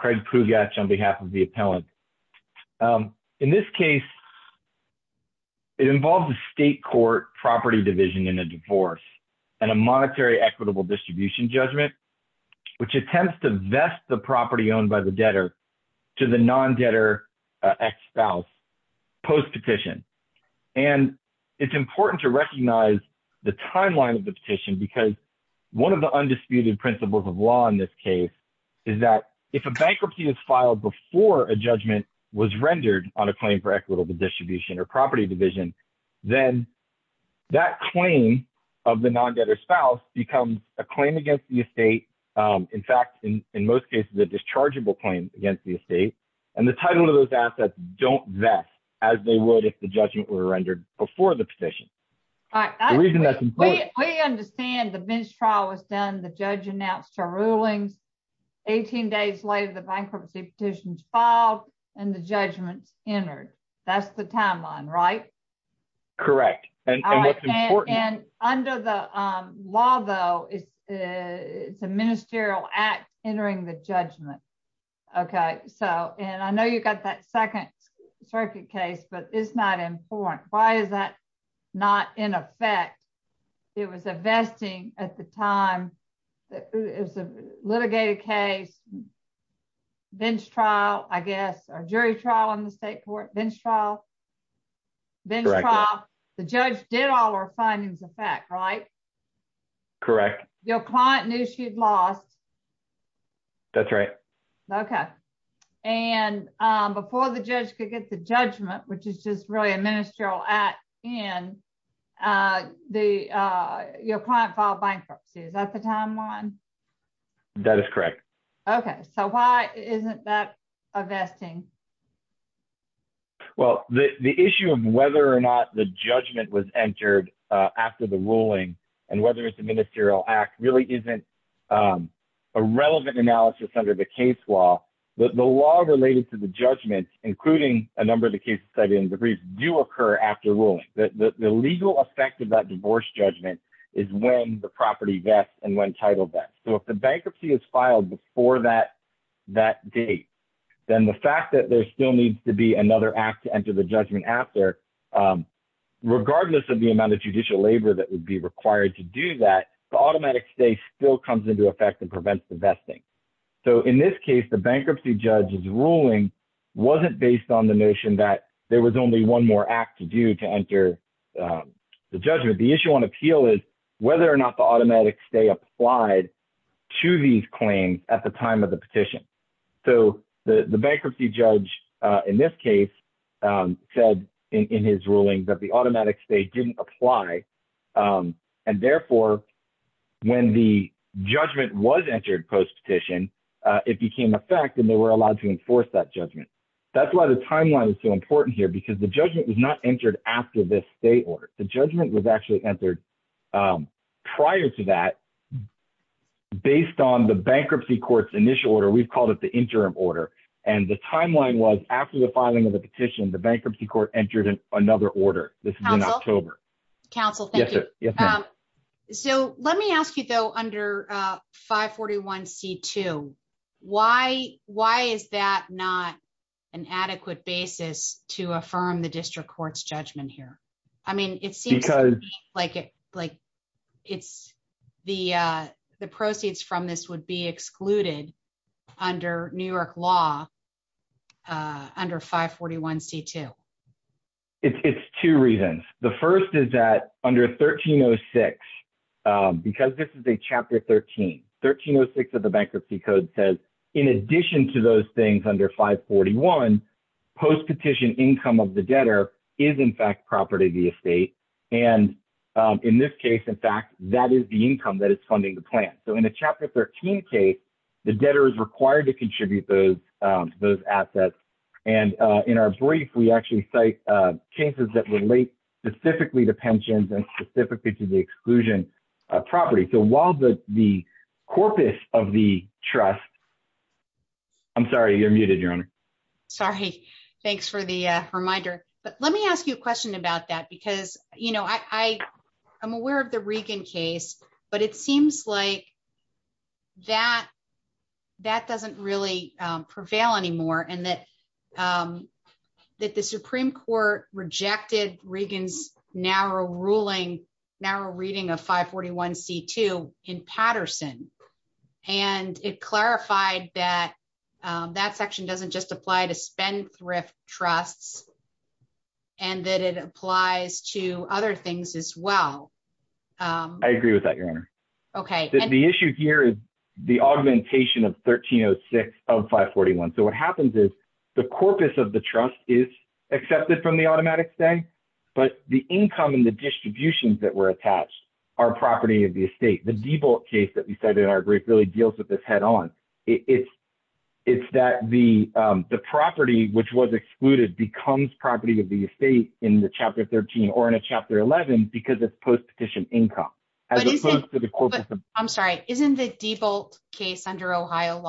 Craig Pugatch on behalf of the appellant. In this case, it involves a state court property division in a divorce and a monetary equitable distribution judgment, which attempts to vest the property owned by the debtor to the non-debtor ex-spouse post-petition. And it's important to recognize the timeline of the petition because one of the undisputed principles of law in this case is that if a bankruptcy is filed before a judgment was rendered on a claim for equitable distribution or property division, then that claim of the non-debtor spouse becomes a claim against the estate. In fact, in most cases, it's a dischargeable claim against the estate, and the title of those assets don't vest as they would if the judgment were rendered before the petition. We understand the bench trial was done, the judge announced our rulings, 18 days later the bankruptcy petition is filed, and the judgment is entered. That's the timeline, right? Correct. And under the law, though, it's a ministerial act entering the judgment. Okay, so, and I know you got that second circuit case, but it's not important. Why is that not in effect? It was a vesting at the time, it was a litigated case, bench trial, I guess, or jury trial on the state court, bench trial. Correct. The judge did all our findings of fact, right? Correct. Your client knew she'd lost. That's right. Okay. And before the judge could get the judgment, which is just really a ministerial act in, your client filed bankruptcy. Is that the timeline? That is correct. Okay, so why isn't that a vesting? Well, the issue of whether or not the judgment was entered after the ruling, and whether it's a ministerial act really isn't a relevant analysis under the case law, but the law related to the judgment, including a number of the cases that in the briefs do occur after ruling. The legal effect of that divorce judgment is when the property vests and when title vests. So if the bankruptcy is filed before that date, then the fact that there still needs to be another act to enter the judgment after, regardless of the amount of judicial labor that would be required to do that, the automatic stay still comes into effect and prevents the vesting. So in this case, the bankruptcy judge's ruling wasn't based on the notion that there was only one more act to do to enter the judgment. The issue on appeal is whether or not the automatic stay applied to these claims at the time of the petition. So the bankruptcy judge, in this case, said in his ruling that the automatic stay didn't apply, and therefore, when the judgment was entered post-petition, it became a fact and they were allowed to enforce that judgment. That's why the timeline is so important here, because the judgment was not entered after the stay order. The judgment was actually entered prior to that, based on the bankruptcy court's initial order. We've called it the interim order, and the timeline was after the filing of the petition, the bankruptcy court entered another order. Council, thank you. So let me ask you, though, under 541C2, why is that not an adequate basis to affirm the district court's judgment here? I mean, it seems like the proceeds from this would be excluded under New York law under 541C2. It's two reasons. The first is that under 1306, because this is a Chapter 13, 1306 of the Bankruptcy Code says, in addition to those things under 541, post-petition income of the debtor is, in fact, property of the estate. And in this case, in fact, that is the income that is funding the plan. So in the Chapter 13 case, the debtor is required to contribute those assets. And in our brief, we actually cite cases that relate specifically to pensions and specifically to the exclusion property. So while the corpus of the trust — I'm sorry, you're muted, Your Honor. Sorry. Thanks for the reminder. But let me ask you a question about that, because, you know, I'm aware of the Regan case, but it seems like that doesn't really prevail anymore and that the Supreme Court rejected Regan's narrow ruling, narrow reading of 541C2 in Patterson. And it clarified that that section doesn't just apply to spendthrift trusts and that it applies to other things as well. I agree with that, Your Honor. The issue here is the augmentation of 1306 of 541. So what happens is the corpus of the trust is accepted from the automatic spend, but the income and the distributions that were attached are property of the estate. The DeBolt case that we cited in our brief really deals with this head on. It's that the property which was excluded becomes property of the estate in the Chapter 13 or in a Chapter 11 because it's post-petition income as opposed to the corpus of —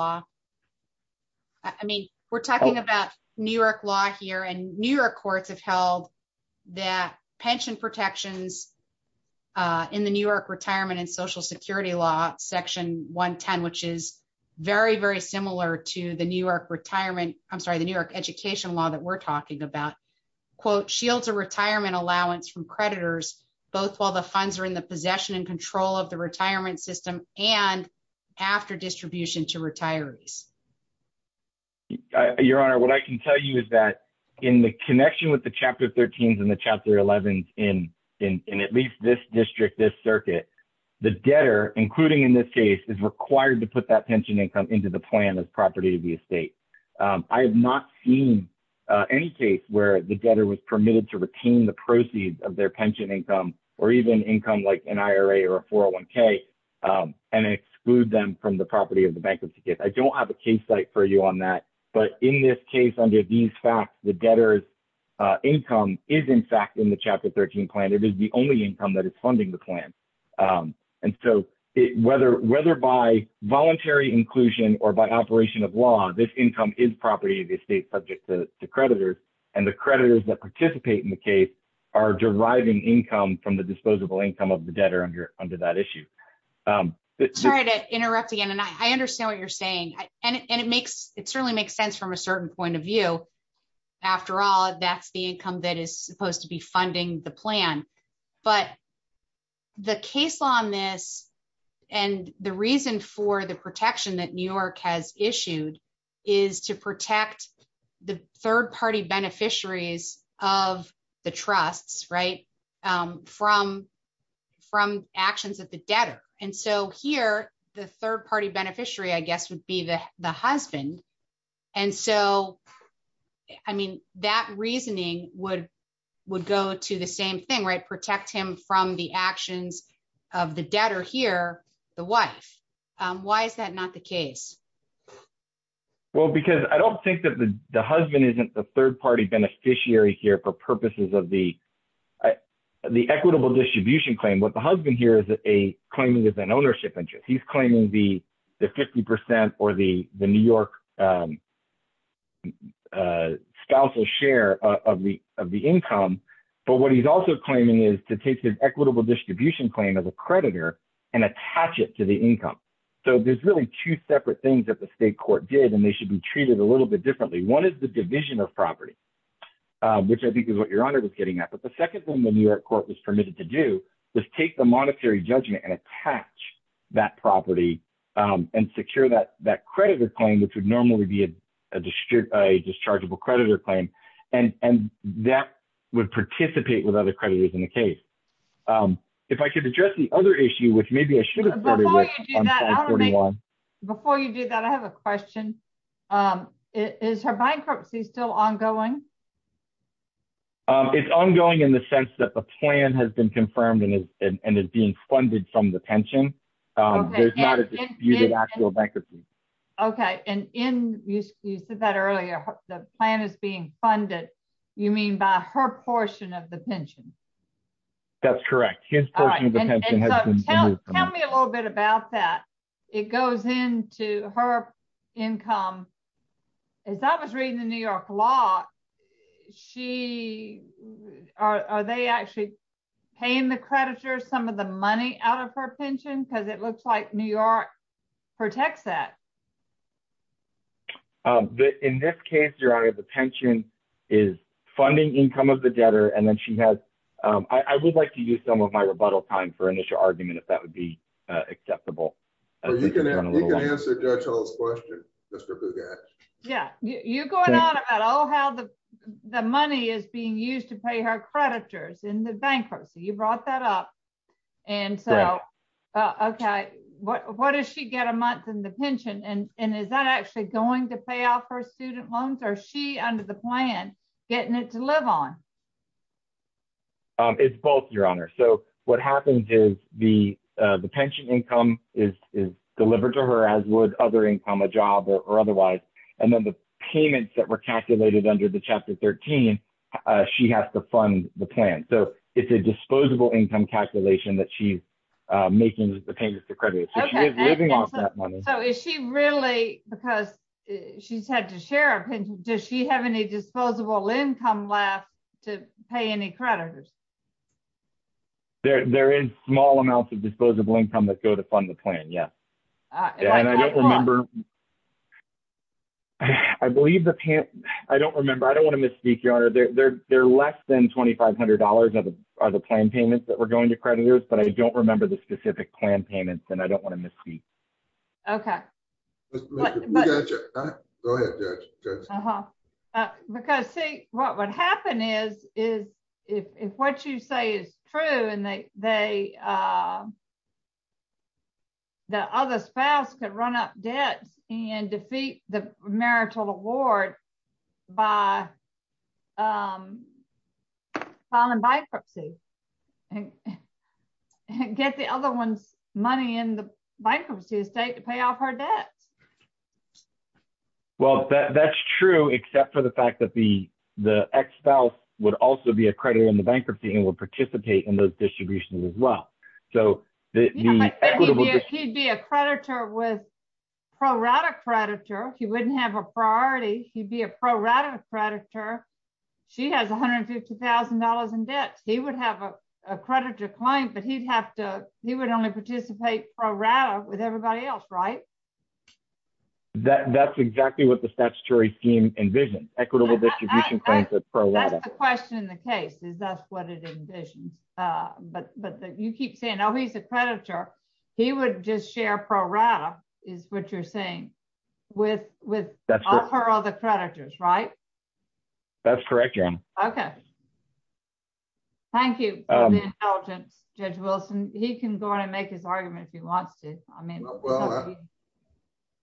I mean, we're talking about New York law here, and New York courts have held that pension protections in the New York Retirement and Social Security law, Section 110, which is very, very similar to the New York retirement — I'm sorry, the New York education law that we're talking about, quote, shields a retirement allowance from creditors both while the funds are in the possession and control of the retirement system and after distribution to retirees. Your Honor, what I can tell you is that in the connection with the Chapter 13s and the Chapter 11s in at least this district, this circuit, the debtor, including in this case, is required to put that pension income into the plan as property of the estate. I have not seen any case where the debtor was permitted to retain the proceeds of their pension income or even income like an IRA or a 401k and exclude them from the property of the bankruptcy case. I don't have a case site for you on that, but in this case under these facts, the debtor's income is in fact in the Chapter 13 plan. It is the only income that is funding the plan. And so whether by voluntary inclusion or by operation of law, this income is property of the estate subject to creditors, and the creditors that participate in the case are deriving income from the disposable income of the debtor under that issue. Sorry to interrupt again, and I understand what you're saying. And it certainly makes sense from a certain point of view. After all, that's the income that is supposed to be funding the plan. But the case on this, and the reason for the protection that New York has issued, is to protect the third party beneficiaries of the trusts, right, from actions of the debtor. And so here, the third party beneficiary, I guess, would be the husband. And so, I mean, that reasoning would go to the same thing, right, protect him from the actions of the debtor here, the wife. Why is that not the case? Well, because I don't think that the husband isn't the third party beneficiary here for purposes of the equitable distribution claim. What the husband here is claiming is an ownership interest. He's claiming the 50% or the New York spousal share of the income. But what he's also claiming is to take his equitable distribution claim as a creditor and attach it to the income. So there's really two separate things that the state court did, and they should be treated a little bit differently. One is the division of property, which I think is what Your Honor was getting at. But the second thing the New York court was permitted to do was take the monetary judgment and attach that property and secure that creditor claim, which would normally be a dischargeable creditor claim. And that would participate with other creditors in the case. If I could address the other issue, which maybe I should have started with on 541. Before you do that, I have a question. Is her bankruptcy still ongoing? It's ongoing in the sense that the plan has been confirmed and is being funded from the pension. There's not an actual bankruptcy. Okay. And you said that earlier, the plan is being funded, you mean by her portion of the pension? That's correct. Tell me a little bit about that. It goes into her income. As I was reading the New York law, are they actually paying the creditor some of the money out of her pension? Because it looks like New York protects that. In this case, Your Honor, the pension is funding income of the debtor. I would like to use some of my rebuttal time for initial argument if that would be acceptable. You can answer Judge Hall's question. You're going on about how the money is being used to pay her creditors in the bankruptcy. You brought that up. What does she get a month in the pension? And is that actually going to pay off her student loans? Or is she, under the plan, getting it to live on? It's both, Your Honor. So what happens is the pension income is delivered to her as would other income, a job or otherwise. And then the payments that were calculated under the Chapter 13, she has to fund the plan. So it's a disposable income calculation that she's making the payments to creditors. So is she really, because she's had to share a pension, does she have any disposable income left to pay any creditors? There is small amounts of disposable income that go to fund the plan, yes. I don't remember. I don't want to misspeak, Your Honor. There are less than $2,500 of the plan payments that were going to creditors, but I don't remember the specific plan payments, and I don't want to misspeak. Okay. Go ahead, Judge. Because, see, what would happen is, if what you say is true, and the other spouse could run up debts and defeat the marital award by filing bankruptcy and get the other one's money in the bankruptcy estate to pay off her debts. Well, that's true, except for the fact that the ex-spouse would also be a creditor in the bankruptcy and would participate in those distributions as well. He'd be a creditor with pro-rata creditor. He wouldn't have a priority. He'd be a pro-rata creditor. She has $150,000 in debt. He would have a creditor claim, but he would only participate pro-rata with everybody else, right? That's exactly what the statutory scheme envisions, equitable distribution claims with pro-rata. That's the question in the case, is that's what it envisions. But you keep saying, oh, he's a creditor. He would just share pro-rata, is what you're saying, with all her other creditors, right? That's correct, Your Honor. Okay. Thank you for the intelligence, Judge Wilson. He can go on and make his argument if he wants to.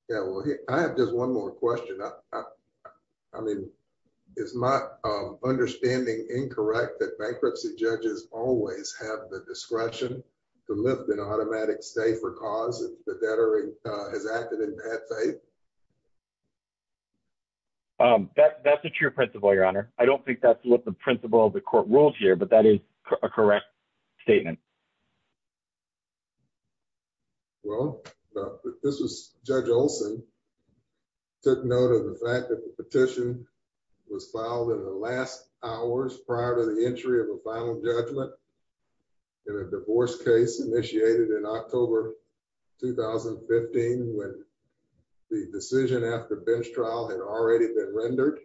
Well, I have just one more question. I mean, is my understanding incorrect that bankruptcy judges always have the discretion to lift an automatic stay for cause if the debtor has acted in bad faith? That's a true principle, Your Honor. I don't think that's what the principle of the court rules here, but that is a correct statement. Well, this was Judge Olson, took note of the fact that the petition was filed in the last hours prior to the entry of a final judgment in a divorce case initiated in October 2015 when the decision after bench trial had already been rendered.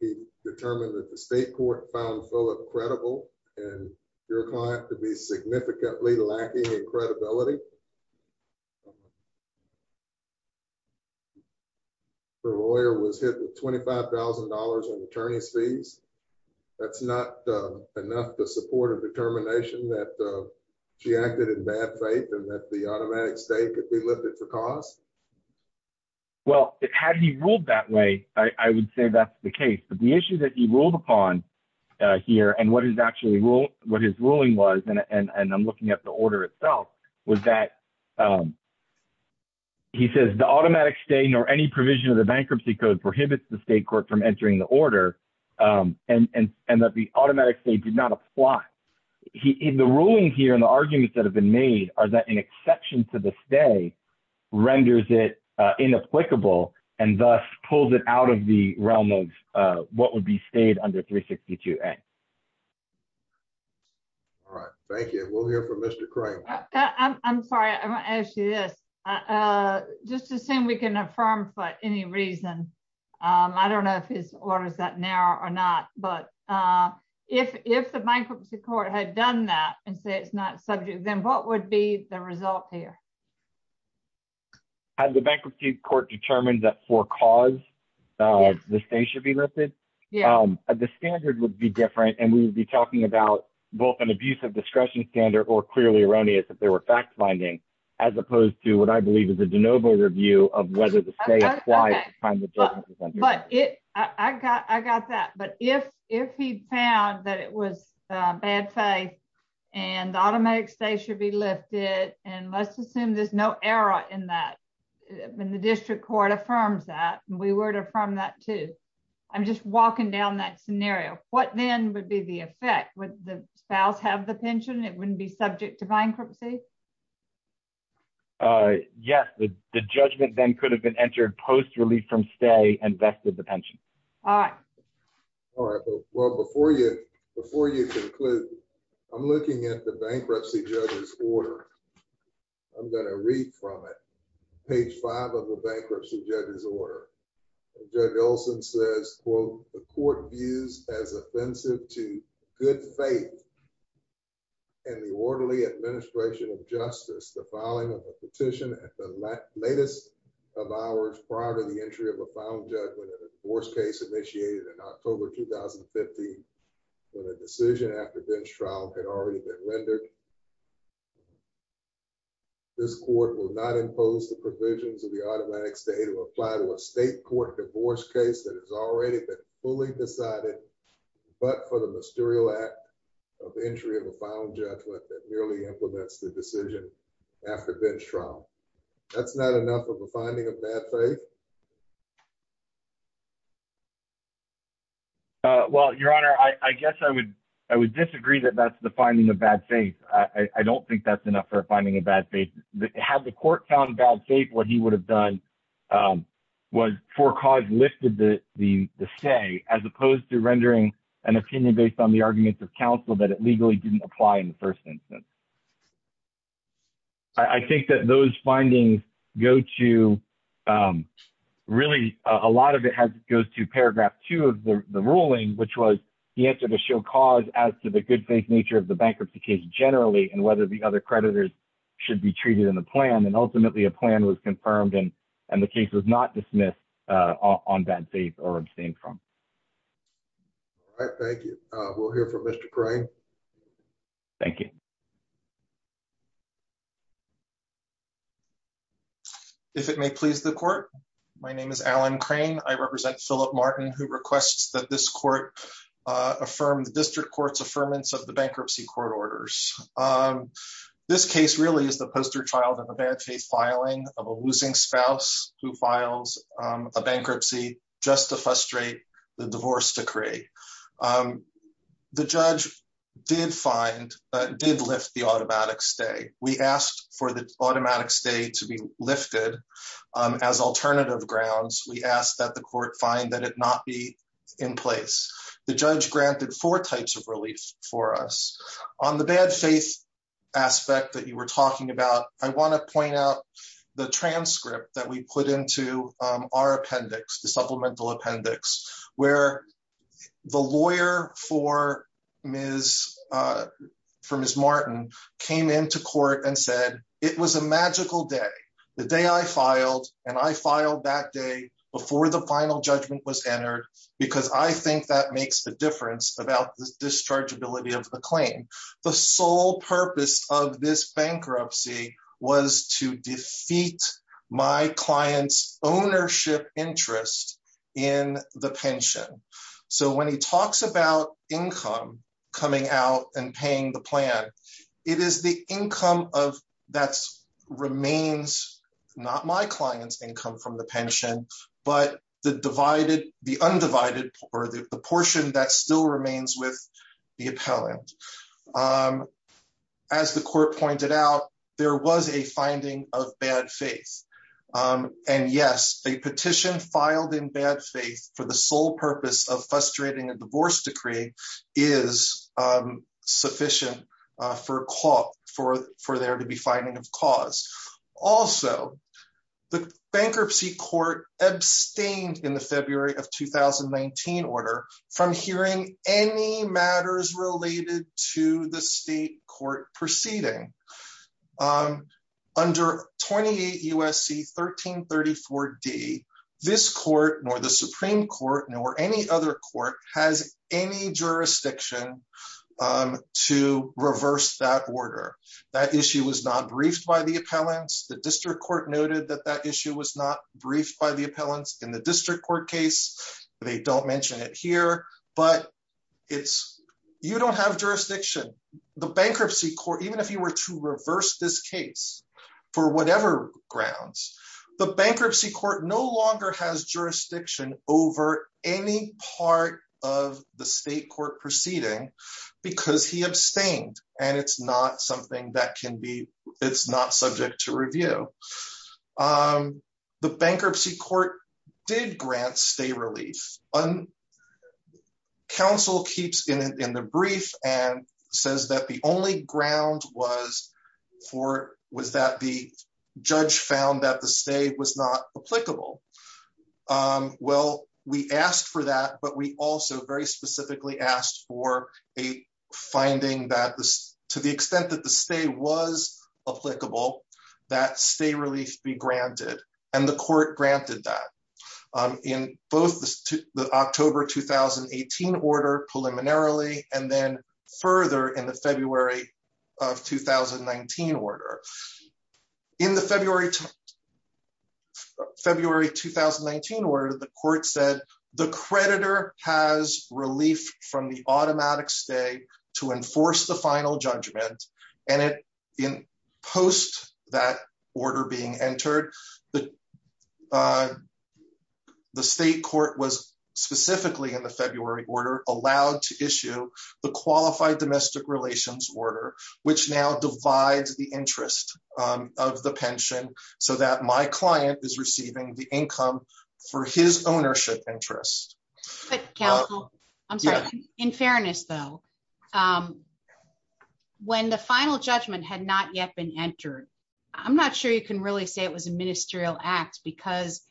He determined that the state court found Philip credible and your client to be significantly lacking in credibility. Her lawyer was hit with $25,000 in attorney's fees. That's not enough to support a determination that she acted in bad faith and that the automatic stay could be lifted for cause? Well, had he ruled that way, I would say that's the case. But the issue that he ruled upon here and what his ruling was, and I'm looking at the order itself, was that he says the automatic stay nor any provision of the bankruptcy code prohibits the state court from entering the order and that the automatic stay did not apply. The ruling here and the arguments that have been made are that an exception to the stay renders it inapplicable and thus pulls it out of the realm of what would be stayed under 362A. All right, thank you. We'll hear from Mr. Crane. I'm sorry, I want to ask you this. Just assume we can affirm for any reason. I don't know if his order is that narrow or not, but if the bankruptcy court had done that and say it's not subject, then what would be the result here? Has the bankruptcy court determined that for cause the stay should be lifted? The standard would be different and we would be talking about both an abuse of discretion standard or clearly erroneous if there were fact finding, as opposed to what I believe is a de novo review of whether the stay applies. I got that. But if he found that it was bad faith and automatic stay should be lifted, and let's assume there's no error in that, when the district court affirms that, we would affirm that too. I'm just walking down that scenario. What then would be the effect? Would the spouse have the pension? It wouldn't be subject to bankruptcy? Yes, the judgment then could have been entered post relief from stay and vested the pension. All right. Well, before you conclude, I'm looking at the bankruptcy judge's order. I'm going to read from it. Page five of the bankruptcy judge's order. Judge Olson says, quote, the court views as offensive to good faith and the orderly administration of justice. The filing of a petition at the latest of hours prior to the entry of a final judgment in a divorce case initiated in October, 2015, when a decision after bench trial had already been rendered. This court will not impose the provisions of the automatic stay to apply to a state court divorce case that has already been fully decided, but for the mysterious act of entry of a final judgment that merely implements the decision after bench trial. That's not enough of a finding of bad faith. Well, your honor, I guess I would I would disagree that that's the finding of bad faith. I don't think that's enough for finding a bad faith. Had the court found bad faith, what he would have done was for cause lifted the say, as opposed to rendering an opinion based on the arguments of counsel that it legally didn't apply in the first instance. I think that those findings go to really a lot of it has goes to paragraph two of the ruling, which was the answer to show cause as to the good faith nature of the bankruptcy case generally and whether the other creditors should be treated in the plan. And ultimately, a plan was confirmed and and the case was not dismissed on bad faith or abstain from. Thank you. We'll hear from Mr. Crane. Thank you. If it may please the court. My name is Alan crane, I represent Philip Martin, who requests that this court affirmed the district courts affirmance of the bankruptcy court orders. This case really is the poster child of a bad faith filing of a losing spouse who files a bankruptcy, just to frustrate the divorce decree. The judge did find did lift the automatic stay, we asked for the automatic stay to be lifted as alternative grounds we asked that the court find that it not be in place. The judge granted for types of relief for us on the bad faith aspect that you were talking about, I want to point out the transcript that we put into our appendix the supplemental appendix, where the lawyer for Ms. From his Martin came into court and said it was a magical day, the day I filed and I filed that day before the final judgment was entered, because I think that makes the difference about the discharge ability of the claim. The sole purpose of this bankruptcy was to defeat my clients ownership interest in the pension. So when he talks about income coming out and paying the plan. It is the income of that remains, not my clients income from the pension, but the divided the undivided or the portion that still remains with the appellant. As the court pointed out, there was a finding of bad faith. And yes, a petition filed in bad faith for the sole purpose of frustrating a divorce decree is sufficient for for for there to be finding of cause. Also, the bankruptcy court abstained in the February of 2019 order from hearing any matters related to the state court proceeding. Under 28 USC 1334 D. This court nor the Supreme Court nor any other court has any jurisdiction to reverse that order. That issue was not briefed by the appellants the district court noted that that issue was not briefed by the appellants in the district court case. They don't mention it here, but it's, you don't have jurisdiction, the bankruptcy court even if you were to reverse this case for whatever grounds, the bankruptcy court no longer has jurisdiction over any part of the state court proceeding, because he abstained, and it's not something that can be. It's not subject to review the bankruptcy court did grant stay relief on council keeps in the brief and says that the only ground was for was that the judge found that the state was not applicable. Well, we asked for that but we also very specifically asked for a finding that this, to the extent that the state was applicable that stay relief be granted, and the court granted that in both the October 2018 order preliminarily, and then further in the February of 2019 order in the February. February 2019 or the court said the creditor has relief from the automatic stay to enforce the final judgment, and it in post that order being entered the, the state court was specifically in the February order allowed to issue the qualified domestic relations order, which now divides the interest of the pension, so that my client is receiving the income for his ownership interest. I'm sorry. In fairness, though, when the final judgment had not yet been entered. I'm not sure you can really say it was a ministerial act because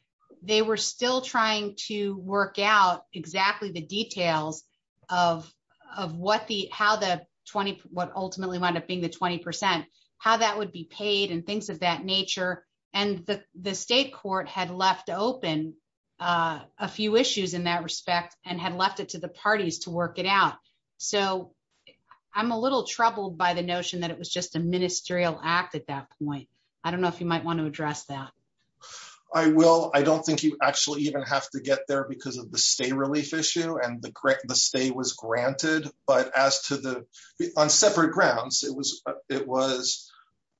they were still trying to work out exactly the details of, of what the how the 20, what ultimately wound up being the 20%, how that would be paid and things of that nature, and the state court had left open a few issues in that respect, and had left it to the parties to work it out. So I'm a little troubled by the notion that it was just a ministerial act at that point. I don't know if you might want to address that. I will, I don't think you actually even have to get there because of the state relief issue and the grant the state was granted, but as to the on separate grounds, it was, it was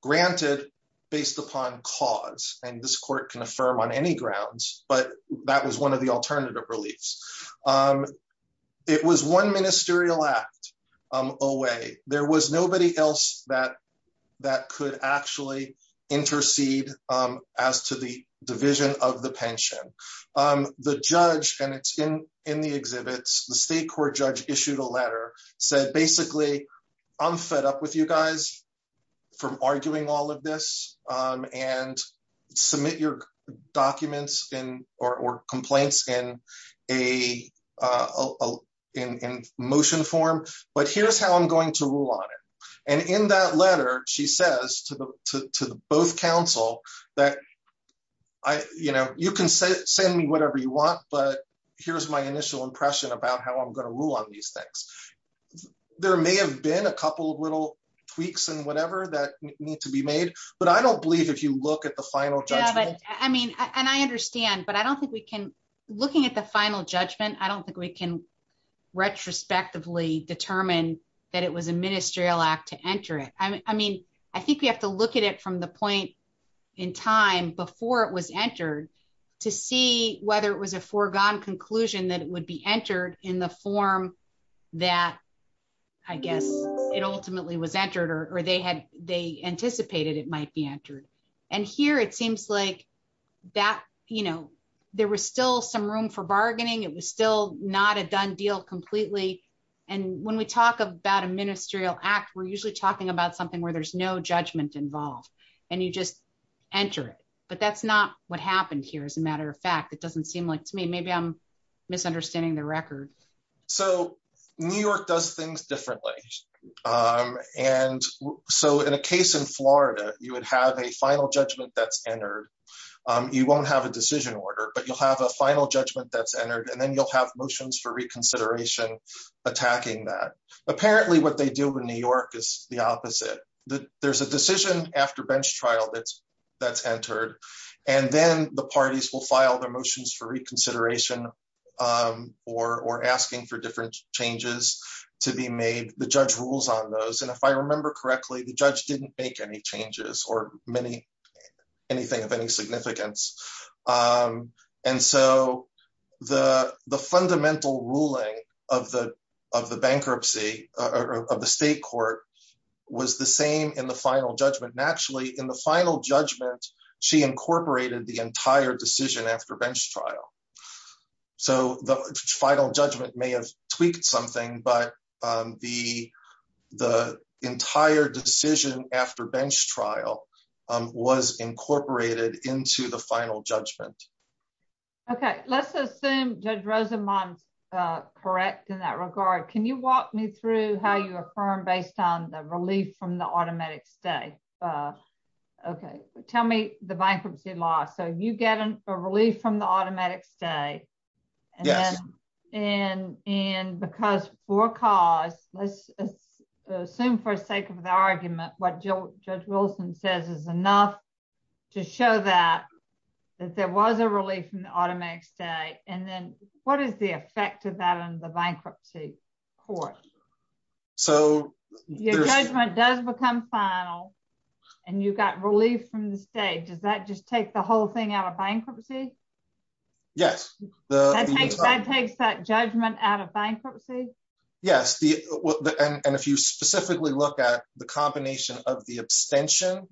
granted, based upon cause, and this court can affirm on any grounds, but that was one of the alternative reliefs. It was one ministerial act away, there was nobody else that that could actually intercede as to the division of the pension. The judge, and it's in in the exhibits, the state court judge issued a letter said basically, I'm fed up with you guys from arguing all of this and submit your documents in or complaints in a in motion form, but here's how I'm going to rule on it. And in that letter, she says to the, to both counsel that I, you know, you can send me whatever you want, but here's my initial impression about how I'm going to rule on these things. There may have been a couple of little tweaks and whatever that needs to be made, but I don't believe if you look at the final judgment, I mean, and I understand but I don't think we can looking at the final judgment I don't think we can retrospectively determine that it was a ministerial act to enter it. I mean, I think we have to look at it from the point in time before it was entered, to see whether it was a foregone conclusion that it would be entered in the form that I guess it ultimately was entered or they had, they anticipated it might be entered. And here it seems like that, you know, there was still some room for bargaining it was still not a done deal completely. And when we talk about a ministerial act we're usually talking about something where there's no judgment involved, and you just enter it, but that's not what happened here as a matter of fact it doesn't seem like to me maybe I'm misunderstanding the record. So, New York does things differently. And so in a case in Florida, you would have a final judgment that's entered. You won't have a decision order but you'll have a final judgment that's entered and then you'll have motions for reconsideration attacking that apparently what they do in New York is the opposite, that there's a decision after bench trial that's that's entered. And then the parties will file their motions for reconsideration, or asking for different changes to be made the judge rules on those and if I remember correctly the judge didn't make any changes or many anything of any significance. And so, the, the fundamental ruling of the of the bankruptcy of the state court was the same in the final judgment naturally in the final judgment, she incorporated the entire decision after bench trial. So the final judgment may have tweaked something but the, the entire decision after bench trial was incorporated into the final judgment. Okay, let's assume judge Rosa months. Correct. In that regard, can you walk me through how you affirm based on the relief from the automatic stay. Okay, tell me the bankruptcy law so you get a relief from the automatic stay. And, and, and because for cause, let's assume for sake of the argument, what Joe Wilson says is enough to show that that there was a relief and automatic stay, and then what is the effect of that on the bankruptcy court. So, does become final, and you got relief from the state does that just take the whole thing out of bankruptcy. Yes, the judgment out of bankruptcy. Yes, the. And if you specifically look at the combination of the abstention,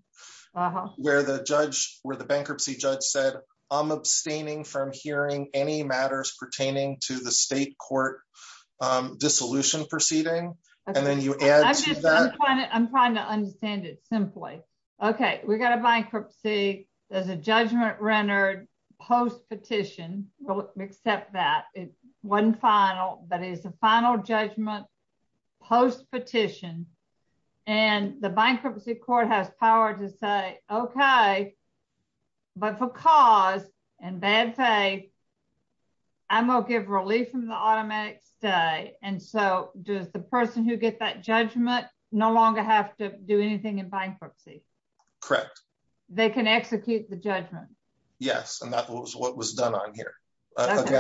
where the judge, where the bankruptcy judge said, I'm abstaining from hearing any matters pertaining to the state court dissolution proceeding. And then you. I'm trying to understand it simply. Okay, we got a bankruptcy, there's a judgment rendered post petition will accept that it wasn't final, but it's a final judgment post petition, and the bankruptcy court has power to say, Okay, but for cause, and bad faith. I'm gonna give relief from the automatic stay, and so does the person who get that judgment, no longer have to do anything in bankruptcy. Correct. They can execute the judgment. Yes, and that was what was done on here. That's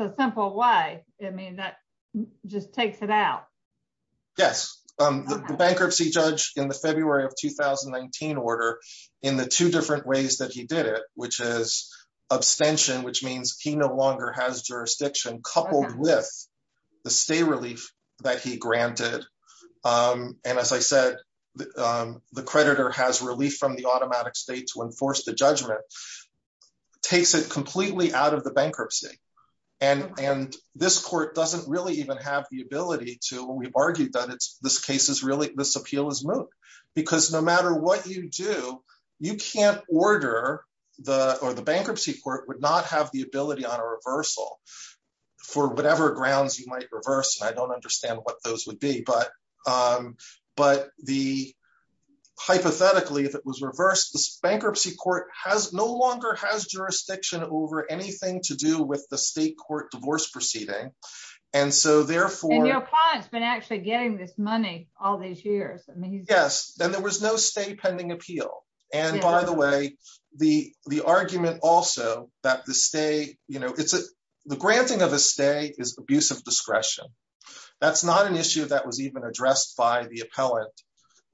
a simple way. I mean that just takes it out. Yes, bankruptcy judge in the February of 2019 order in the two different ways that he did it, which is abstention which means he no longer has jurisdiction coupled with the stay relief that he granted. And as I said, the creditor has relief from the automatic state to enforce the judgment. Takes it completely out of the bankruptcy. And, and this court doesn't really even have the ability to we've argued that it's this case is really this appeal is moot, because no matter what you do, you can't order the or the bankruptcy court would not have the ability on a reversal for whatever grounds you might reverse and I don't understand what those would be but, but the hypothetically if it was reversed this bankruptcy court has no longer has jurisdiction over anything to do with the state court divorce proceeding. And so therefore it's been actually getting this money, all these years. Yes, then there was no stay pending appeal. And by the way, the, the argument also that the stay, you know, it's a, the granting of a stay is abusive discretion. That's not an issue that was even addressed by the appellate.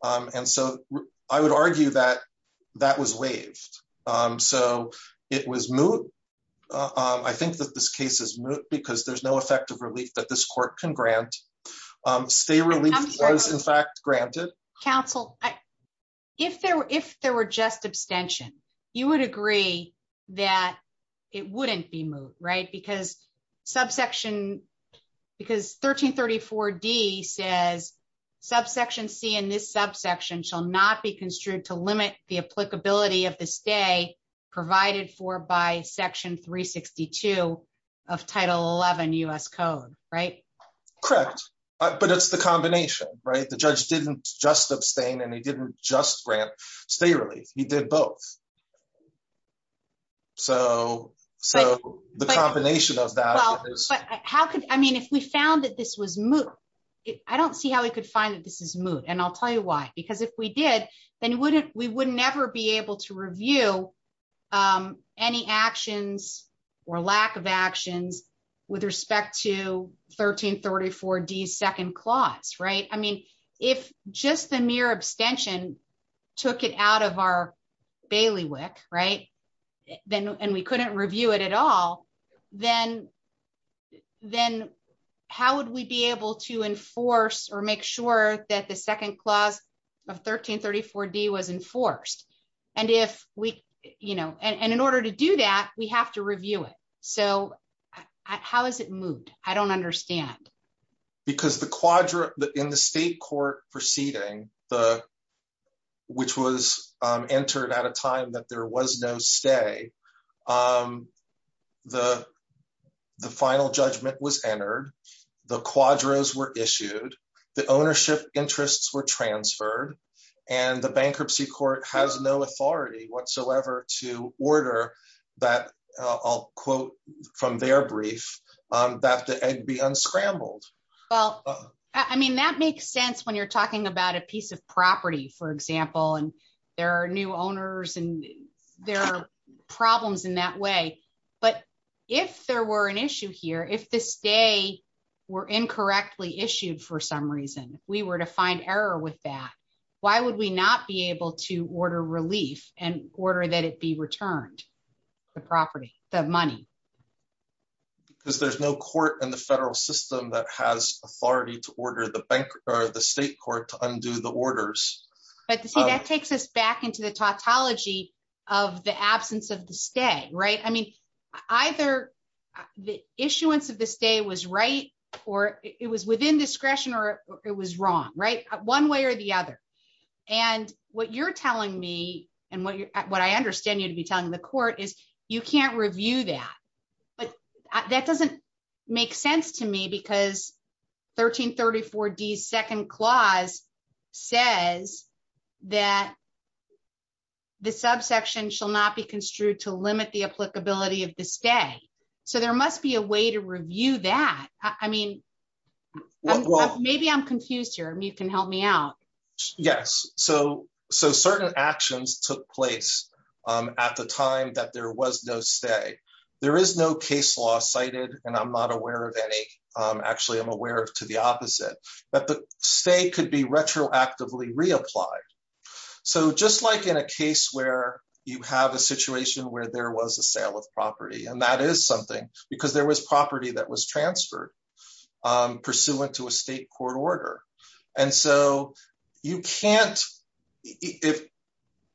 And so I would argue that that was waived. So, it was moot. I think that this case is moot because there's no effective relief that this court can grant stay really was in fact granted counsel. If there were if there were just abstention, you would agree that it wouldn't be moot right because subsection, because 1334 D says subsection see in this subsection shall not be construed to limit the applicability of the stay provided for by section 362 of title 11 us code. Right. Correct. But it's the combination, right, the judge didn't just abstain and he didn't just grant stay really, he did both. So, so the combination of that. How could I mean if we found that this was moot. I don't see how we could find that this is moot and I'll tell you why, because if we did, then wouldn't we wouldn't ever be able to review any actions or lack of actions with respect to 1334 D second clause right I mean, if just the mere abstention, took it out of our bailiff's bailiwick right, then, and we couldn't review it at all. Then, then, how would we be able to enforce or make sure that the second clause of 1334 D was enforced. And if we, you know, and in order to do that, we have to review it. So, how is it moot, I don't understand. Because the quadrant that in the state court proceeding, the, which was entered at a time that there was no stay. Well, I mean that makes sense when you're talking about a piece of property, for example, and there are new owners and there are properties that are being sold that are being sold. But if there were an issue here if this day were incorrectly issued for some reason, we were to find error with that. Why would we not be able to order relief and order that it be returned the property, the money, because there's no court in the federal system that has authority to order the bank, or the state court to undo the orders, but that takes us back into the topology of the absence of the stay right i mean either the issuance of this day was right, or it was within discretion or it was wrong right one way or the other. And what you're telling me, and what you're what I understand you to be telling the court is you can't review that. But that doesn't make sense to me because 1334 D second clause says that the subsection shall not be construed to limit the applicability of the So there must be a way to review that. I mean, maybe I'm confused here and you can help me out. Yes. So, so certain actions took place at the time that there was no stay. There is no case law cited, and I'm not aware of any actually I'm aware of to the opposite, but the state could be retroactively reapplied. So just like in a case where you have a situation where there was a sale of property and that is something, because there was property that was transferred pursuant to a state court order. And so you can't. If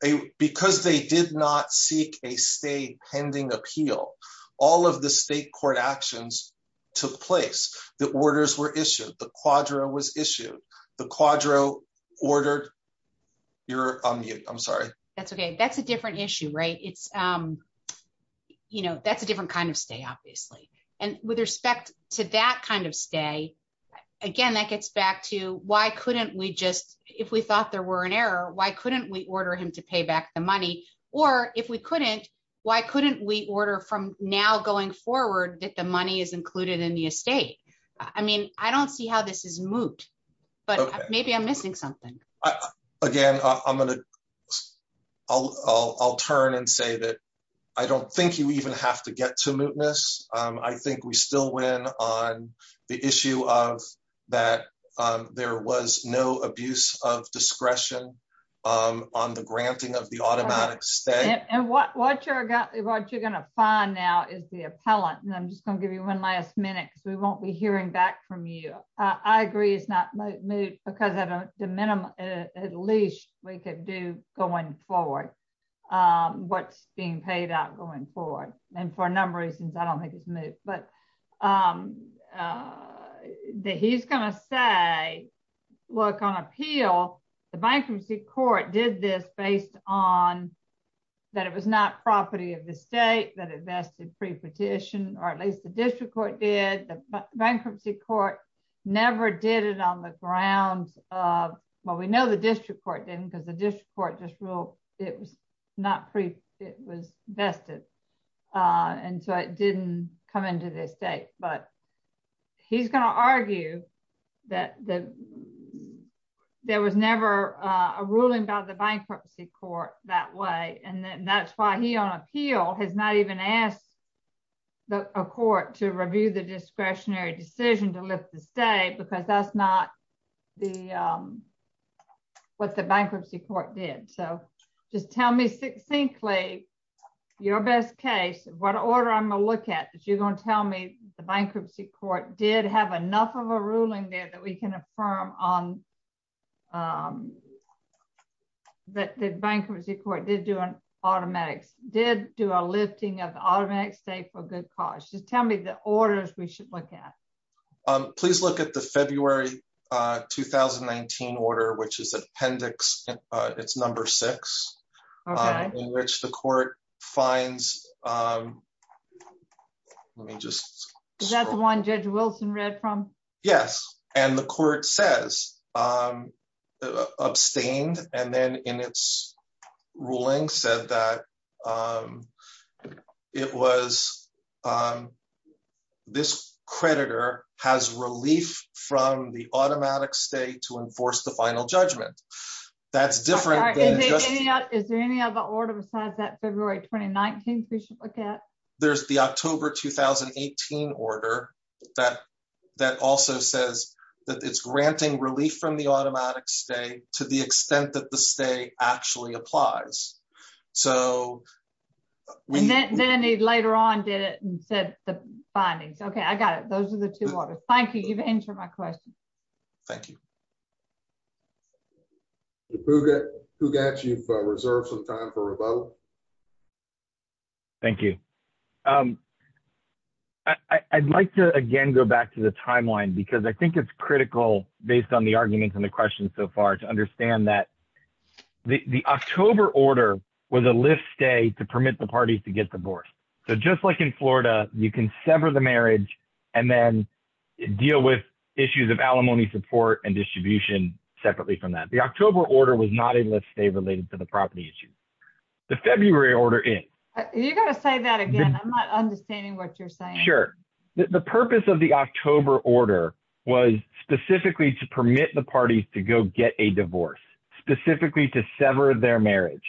a because they did not seek a state pending appeal. All of the state court actions took place, the orders were issued the quadro was issued the quadro ordered your unmute I'm sorry. That's okay that's a different issue right it's, you know, that's a different kind of stay obviously. And with respect to that kind of stay. Again, that gets back to why couldn't we just, if we thought there were an error, why couldn't we order him to pay back the money, or if we couldn't. Why couldn't we order from now going forward that the money is included in the estate. I mean, I don't see how this is moot, but maybe I'm missing something. Again, I'm going to. I'll turn and say that I don't think you even have to get to mootness. I think we still win on the issue of that. There was no abuse of discretion on the granting of the automatic stay and what what you're going to find now is the appellant and I'm just going to give you one last minute so we won't be hearing back from you. I agree it's not moot because of the minimum, at least we could do going forward. What's being paid out going forward, and for a number of reasons I don't think it's moot but that he's going to say, look on appeal, the bankruptcy court did this based on that it was not property of the state that invested pre petition, or at least the district court did the bankruptcy court, never did it on the ground. Well, we know the district court didn't because the district court just rule. It was not free. It was vested. And so it didn't come into this day, but he's going to argue that there was never a ruling by the bankruptcy court that way and that's why he on appeal has not even asked the court to review the discretionary decision to lift the state because that's not the what the bankruptcy court did so just tell me succinctly, your best case, what order I'm a look at that you're going to tell me the bankruptcy court did have enough of a ruling there that we can affirm on that the bankruptcy court did do an automatic did do a lifting of automatic state for good cause just tell me the orders we should look at, please look at the February, 2019 order which is appendix. It's number six, which the court finds. Let me just, that's one judge Wilson read from. Yes, and the court says, abstained, and then in its ruling said that it was this creditor has relief from the automatic state to enforce the final judgment. That's different. Is there any other order besides that February, 2019, we should look at, there's the October 2018 order that that also says that it's granting relief from the automatic state, to the extent that the state actually applies. So, we didn't need later on did it said the findings Okay, I got it. Those are the two waters, thank you for my question. Thank you. Who got you for reserve some time for a vote. Thank you. I'd like to again go back to the timeline because I think it's critical, based on the arguments and the questions so far to understand that the October order was a list day to permit the parties to get divorced. So just like in Florida, you can sever the marriage, and then deal with issues of alimony support and distribution, separately from that the October order was not a list day related to the property issue. The February order is, you're going to say that again I'm not understanding what you're saying. Sure. The purpose of the October order was specifically to permit the parties to go get a divorce, specifically to sever their marriage.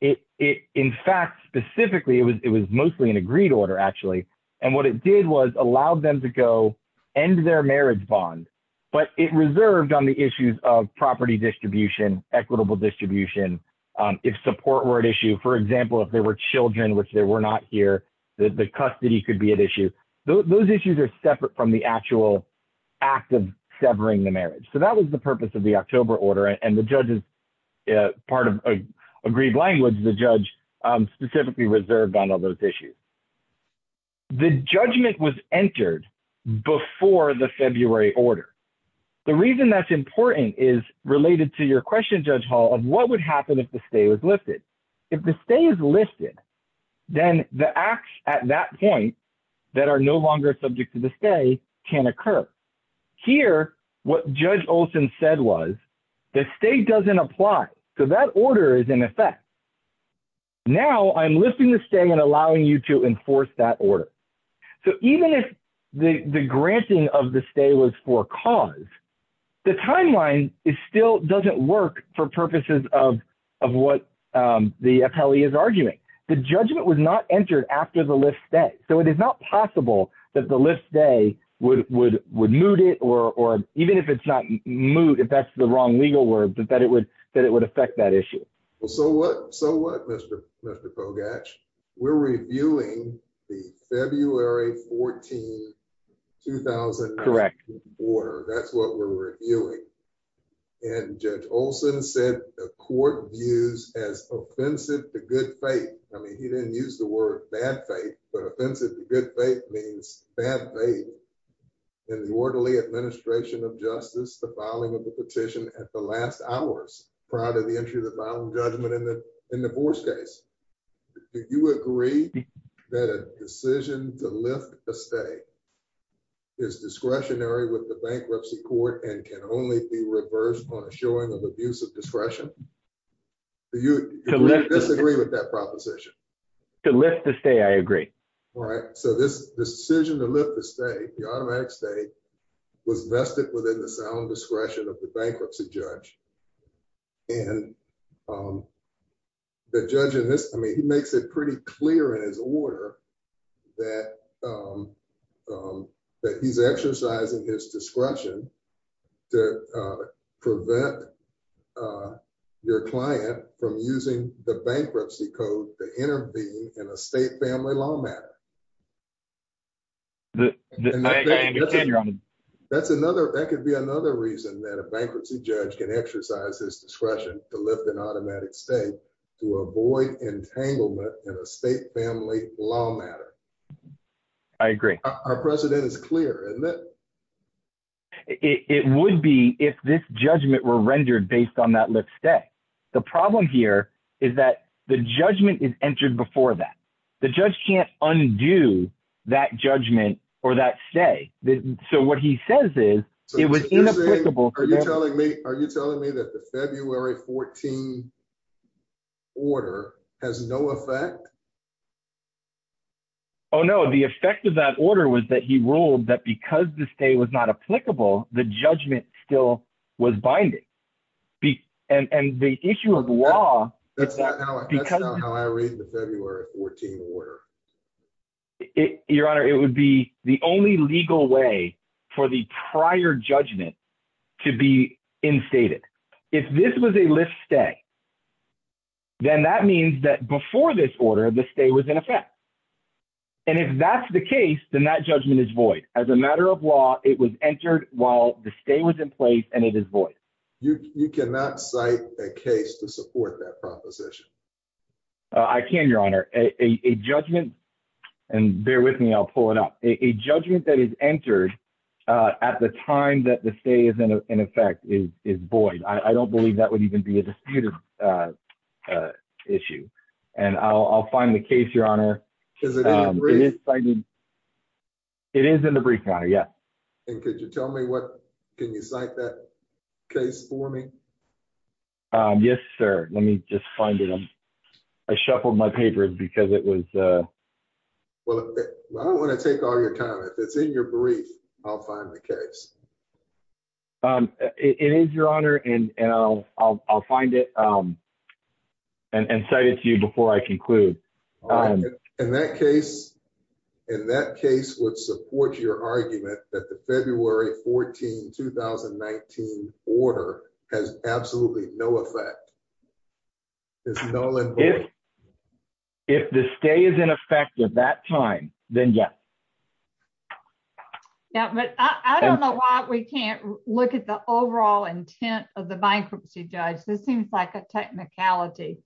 In fact, specifically it was it was mostly an agreed order actually. And what it did was allowed them to go and their marriage bond, but it reserved on the issues of property distribution equitable distribution. If support word issue for example if they were children which they were not here, the custody could be an issue. Those issues are separate from the actual active severing the marriage so that was the purpose of the October order and the judges. Part of a agreed language the judge specifically reserved on all those issues. The judgment was entered before the February order. The reason that's important is related to your question judge Hall of what would happen if the state was lifted. If the state is listed. Then the acts at that point that are no longer subject to the state can occur here, what judge Olson said was the state doesn't apply to that order is in effect. Now I'm listening to stay and allowing you to enforce that order. So even if the granting of the stay was for cause. The timeline is still doesn't work for purposes of of what the Kelly is arguing the judgment was not entered after the list that so it is not possible that the list day would would would move it or even if it's not moved if that's the wrong legal word that that it would that it would affect that issue. So what so what Mr. Mr pogach we're reviewing the February 14 2000 correct order. That's what we're reviewing and also said the court views as offensive to good faith. I mean, he didn't use the word bad faith, but offensive to good faith means bad faith in the orderly administration of justice, the following of the petition at the last hours prior to the entry of the bottom judgment in the divorce case. Do you agree that a decision to lift the stay is discretionary with the bankruptcy court and can only be reversed on a showing of abuse of discretion. Do you disagree with that proposition to lift the stay I agree. All right, so this decision to live to stay the automatic stay was vested within the sound discretion of the bankruptcy judge and The judge in this I mean he makes it pretty clear in his order that He's exercising his discretion to prevent Your client from using the bankruptcy code to intervene in a state family law matter. That's another that could be another reason that a bankruptcy judge can exercise his discretion to lift an automatic stay to avoid entanglement in a state family law matter. I agree. Our president is clear that It would be if this judgment were rendered based on that let's stay. The problem here is that the judgment is entered before that the judge can't undo that judgment or that say that. So what he says is, it was Are you telling me that the February 14 Order has no effect. Oh, no. The effect of that order was that he ruled that because this day was not applicable. The judgment still was binding. And the issue of law. I read the February 14 order. Your Honor, it would be the only legal way for the prior judgment to be in stated if this was a list stay Then that means that before this order this day was in effect. And if that's the case, then that judgment is void as a matter of law. It was entered while the stay was in place and it is voice. You cannot cite a case to support that proposition. I can, Your Honor, a judgment and bear with me. I'll pull it up a judgment that is entered at the time that the state is in effect is is void. I don't believe that would even be a disputed Issue and I'll find the case, Your Honor. It is in the brief. Yeah. Could you tell me what can you cite that case for me. Yes, sir. Let me just find it. I shuffled my papers because it was Well, I don't want to take all your time. If it's in your brief, I'll find the case. It is, Your Honor, and I'll find it. And say it to you before I conclude. In that case, in that case would support your argument that the February 14 2019 order has absolutely no effect. If the stay is in effect at that time, then yes. Yeah, but I don't know why we can't look at the overall intent of the bankruptcy judge. This seems like a technicality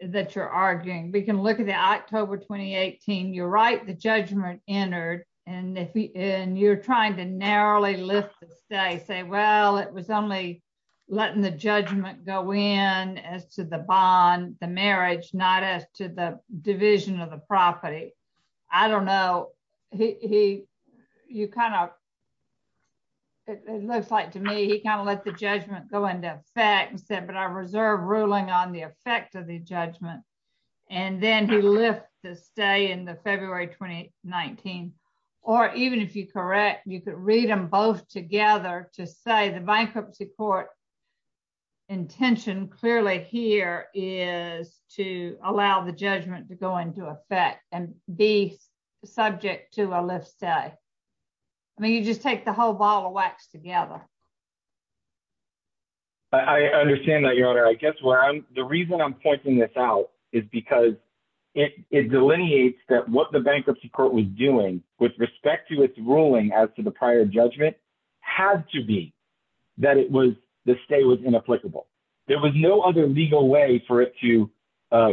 that you're arguing, we can look at the October 2018 you're right, the judgment entered. And if you're trying to narrowly lift the stay say, well, it was only letting the judgment go in as to the bond, the marriage, not as to the division of the property. I don't know, he, you kind of Looks like to me, he kind of let the judgment go into effect and said, but I reserve ruling on the effect of the judgment. And then he left the stay in the February 2019 or even if you correct you could read them both together to say the bankruptcy court intention clearly here is to allow the judgment to go into effect and be subject to a list. I mean, you just take the whole ball of wax together. I understand that your honor, I guess where I'm the reason I'm pointing this out is because it delineates that what the bankruptcy court was doing with respect to its ruling as to the prior judgment had to be That it was the stay was inapplicable. There was no other legal way for it to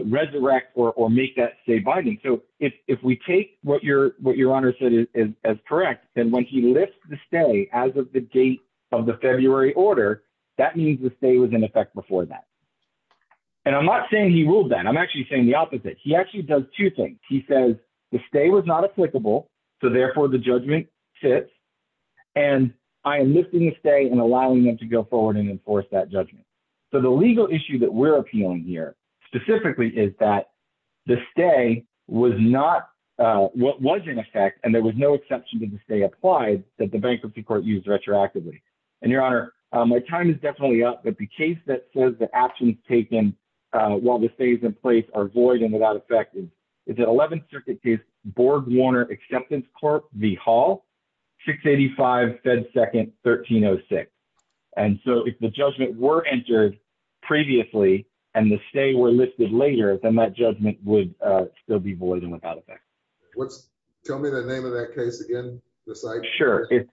resurrect or make that stay binding. So if we take what your what your honor said is as correct. And when he lifts the stay as of the date of the February order. That means the stay was in effect before that. And I'm not saying he ruled that I'm actually saying the opposite. He actually does two things. He says the stay was not applicable. So therefore, the judgment sits And I am lifting the stay and allowing them to go forward and enforce that judgment. So the legal issue that we're appealing here specifically is that The stay was not what was in effect and there was no exception to the stay applied that the bankruptcy court used retroactively and your honor. My time is definitely up, but the case that says the actions taken while the stays in place are void and without effect is is that 11th Circuit case board Warner acceptance court, the hall. 685 fed second 1306 and so if the judgment were entered previously and the stay were listed later than that judgment would still be void and without effect. What's Tell me the name of that case again. Sure, if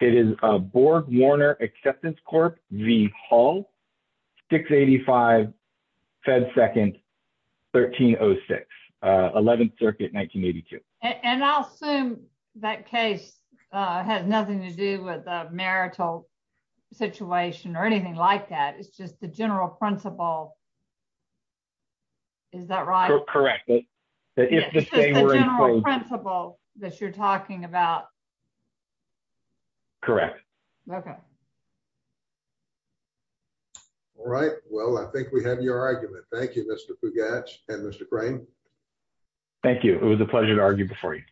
it is a board Warner acceptance court, the hall 685 fed second 1306 11th Circuit 1982 And I'll assume that case has nothing to do with the marital situation or anything like that. It's just the general principle. Is that right, correct. If the Principle that you're talking about. Correct. Okay. All right. Well, I think we have your argument. Thank you, Mr. And Mr. Thank you. It was a pleasure to argue before you.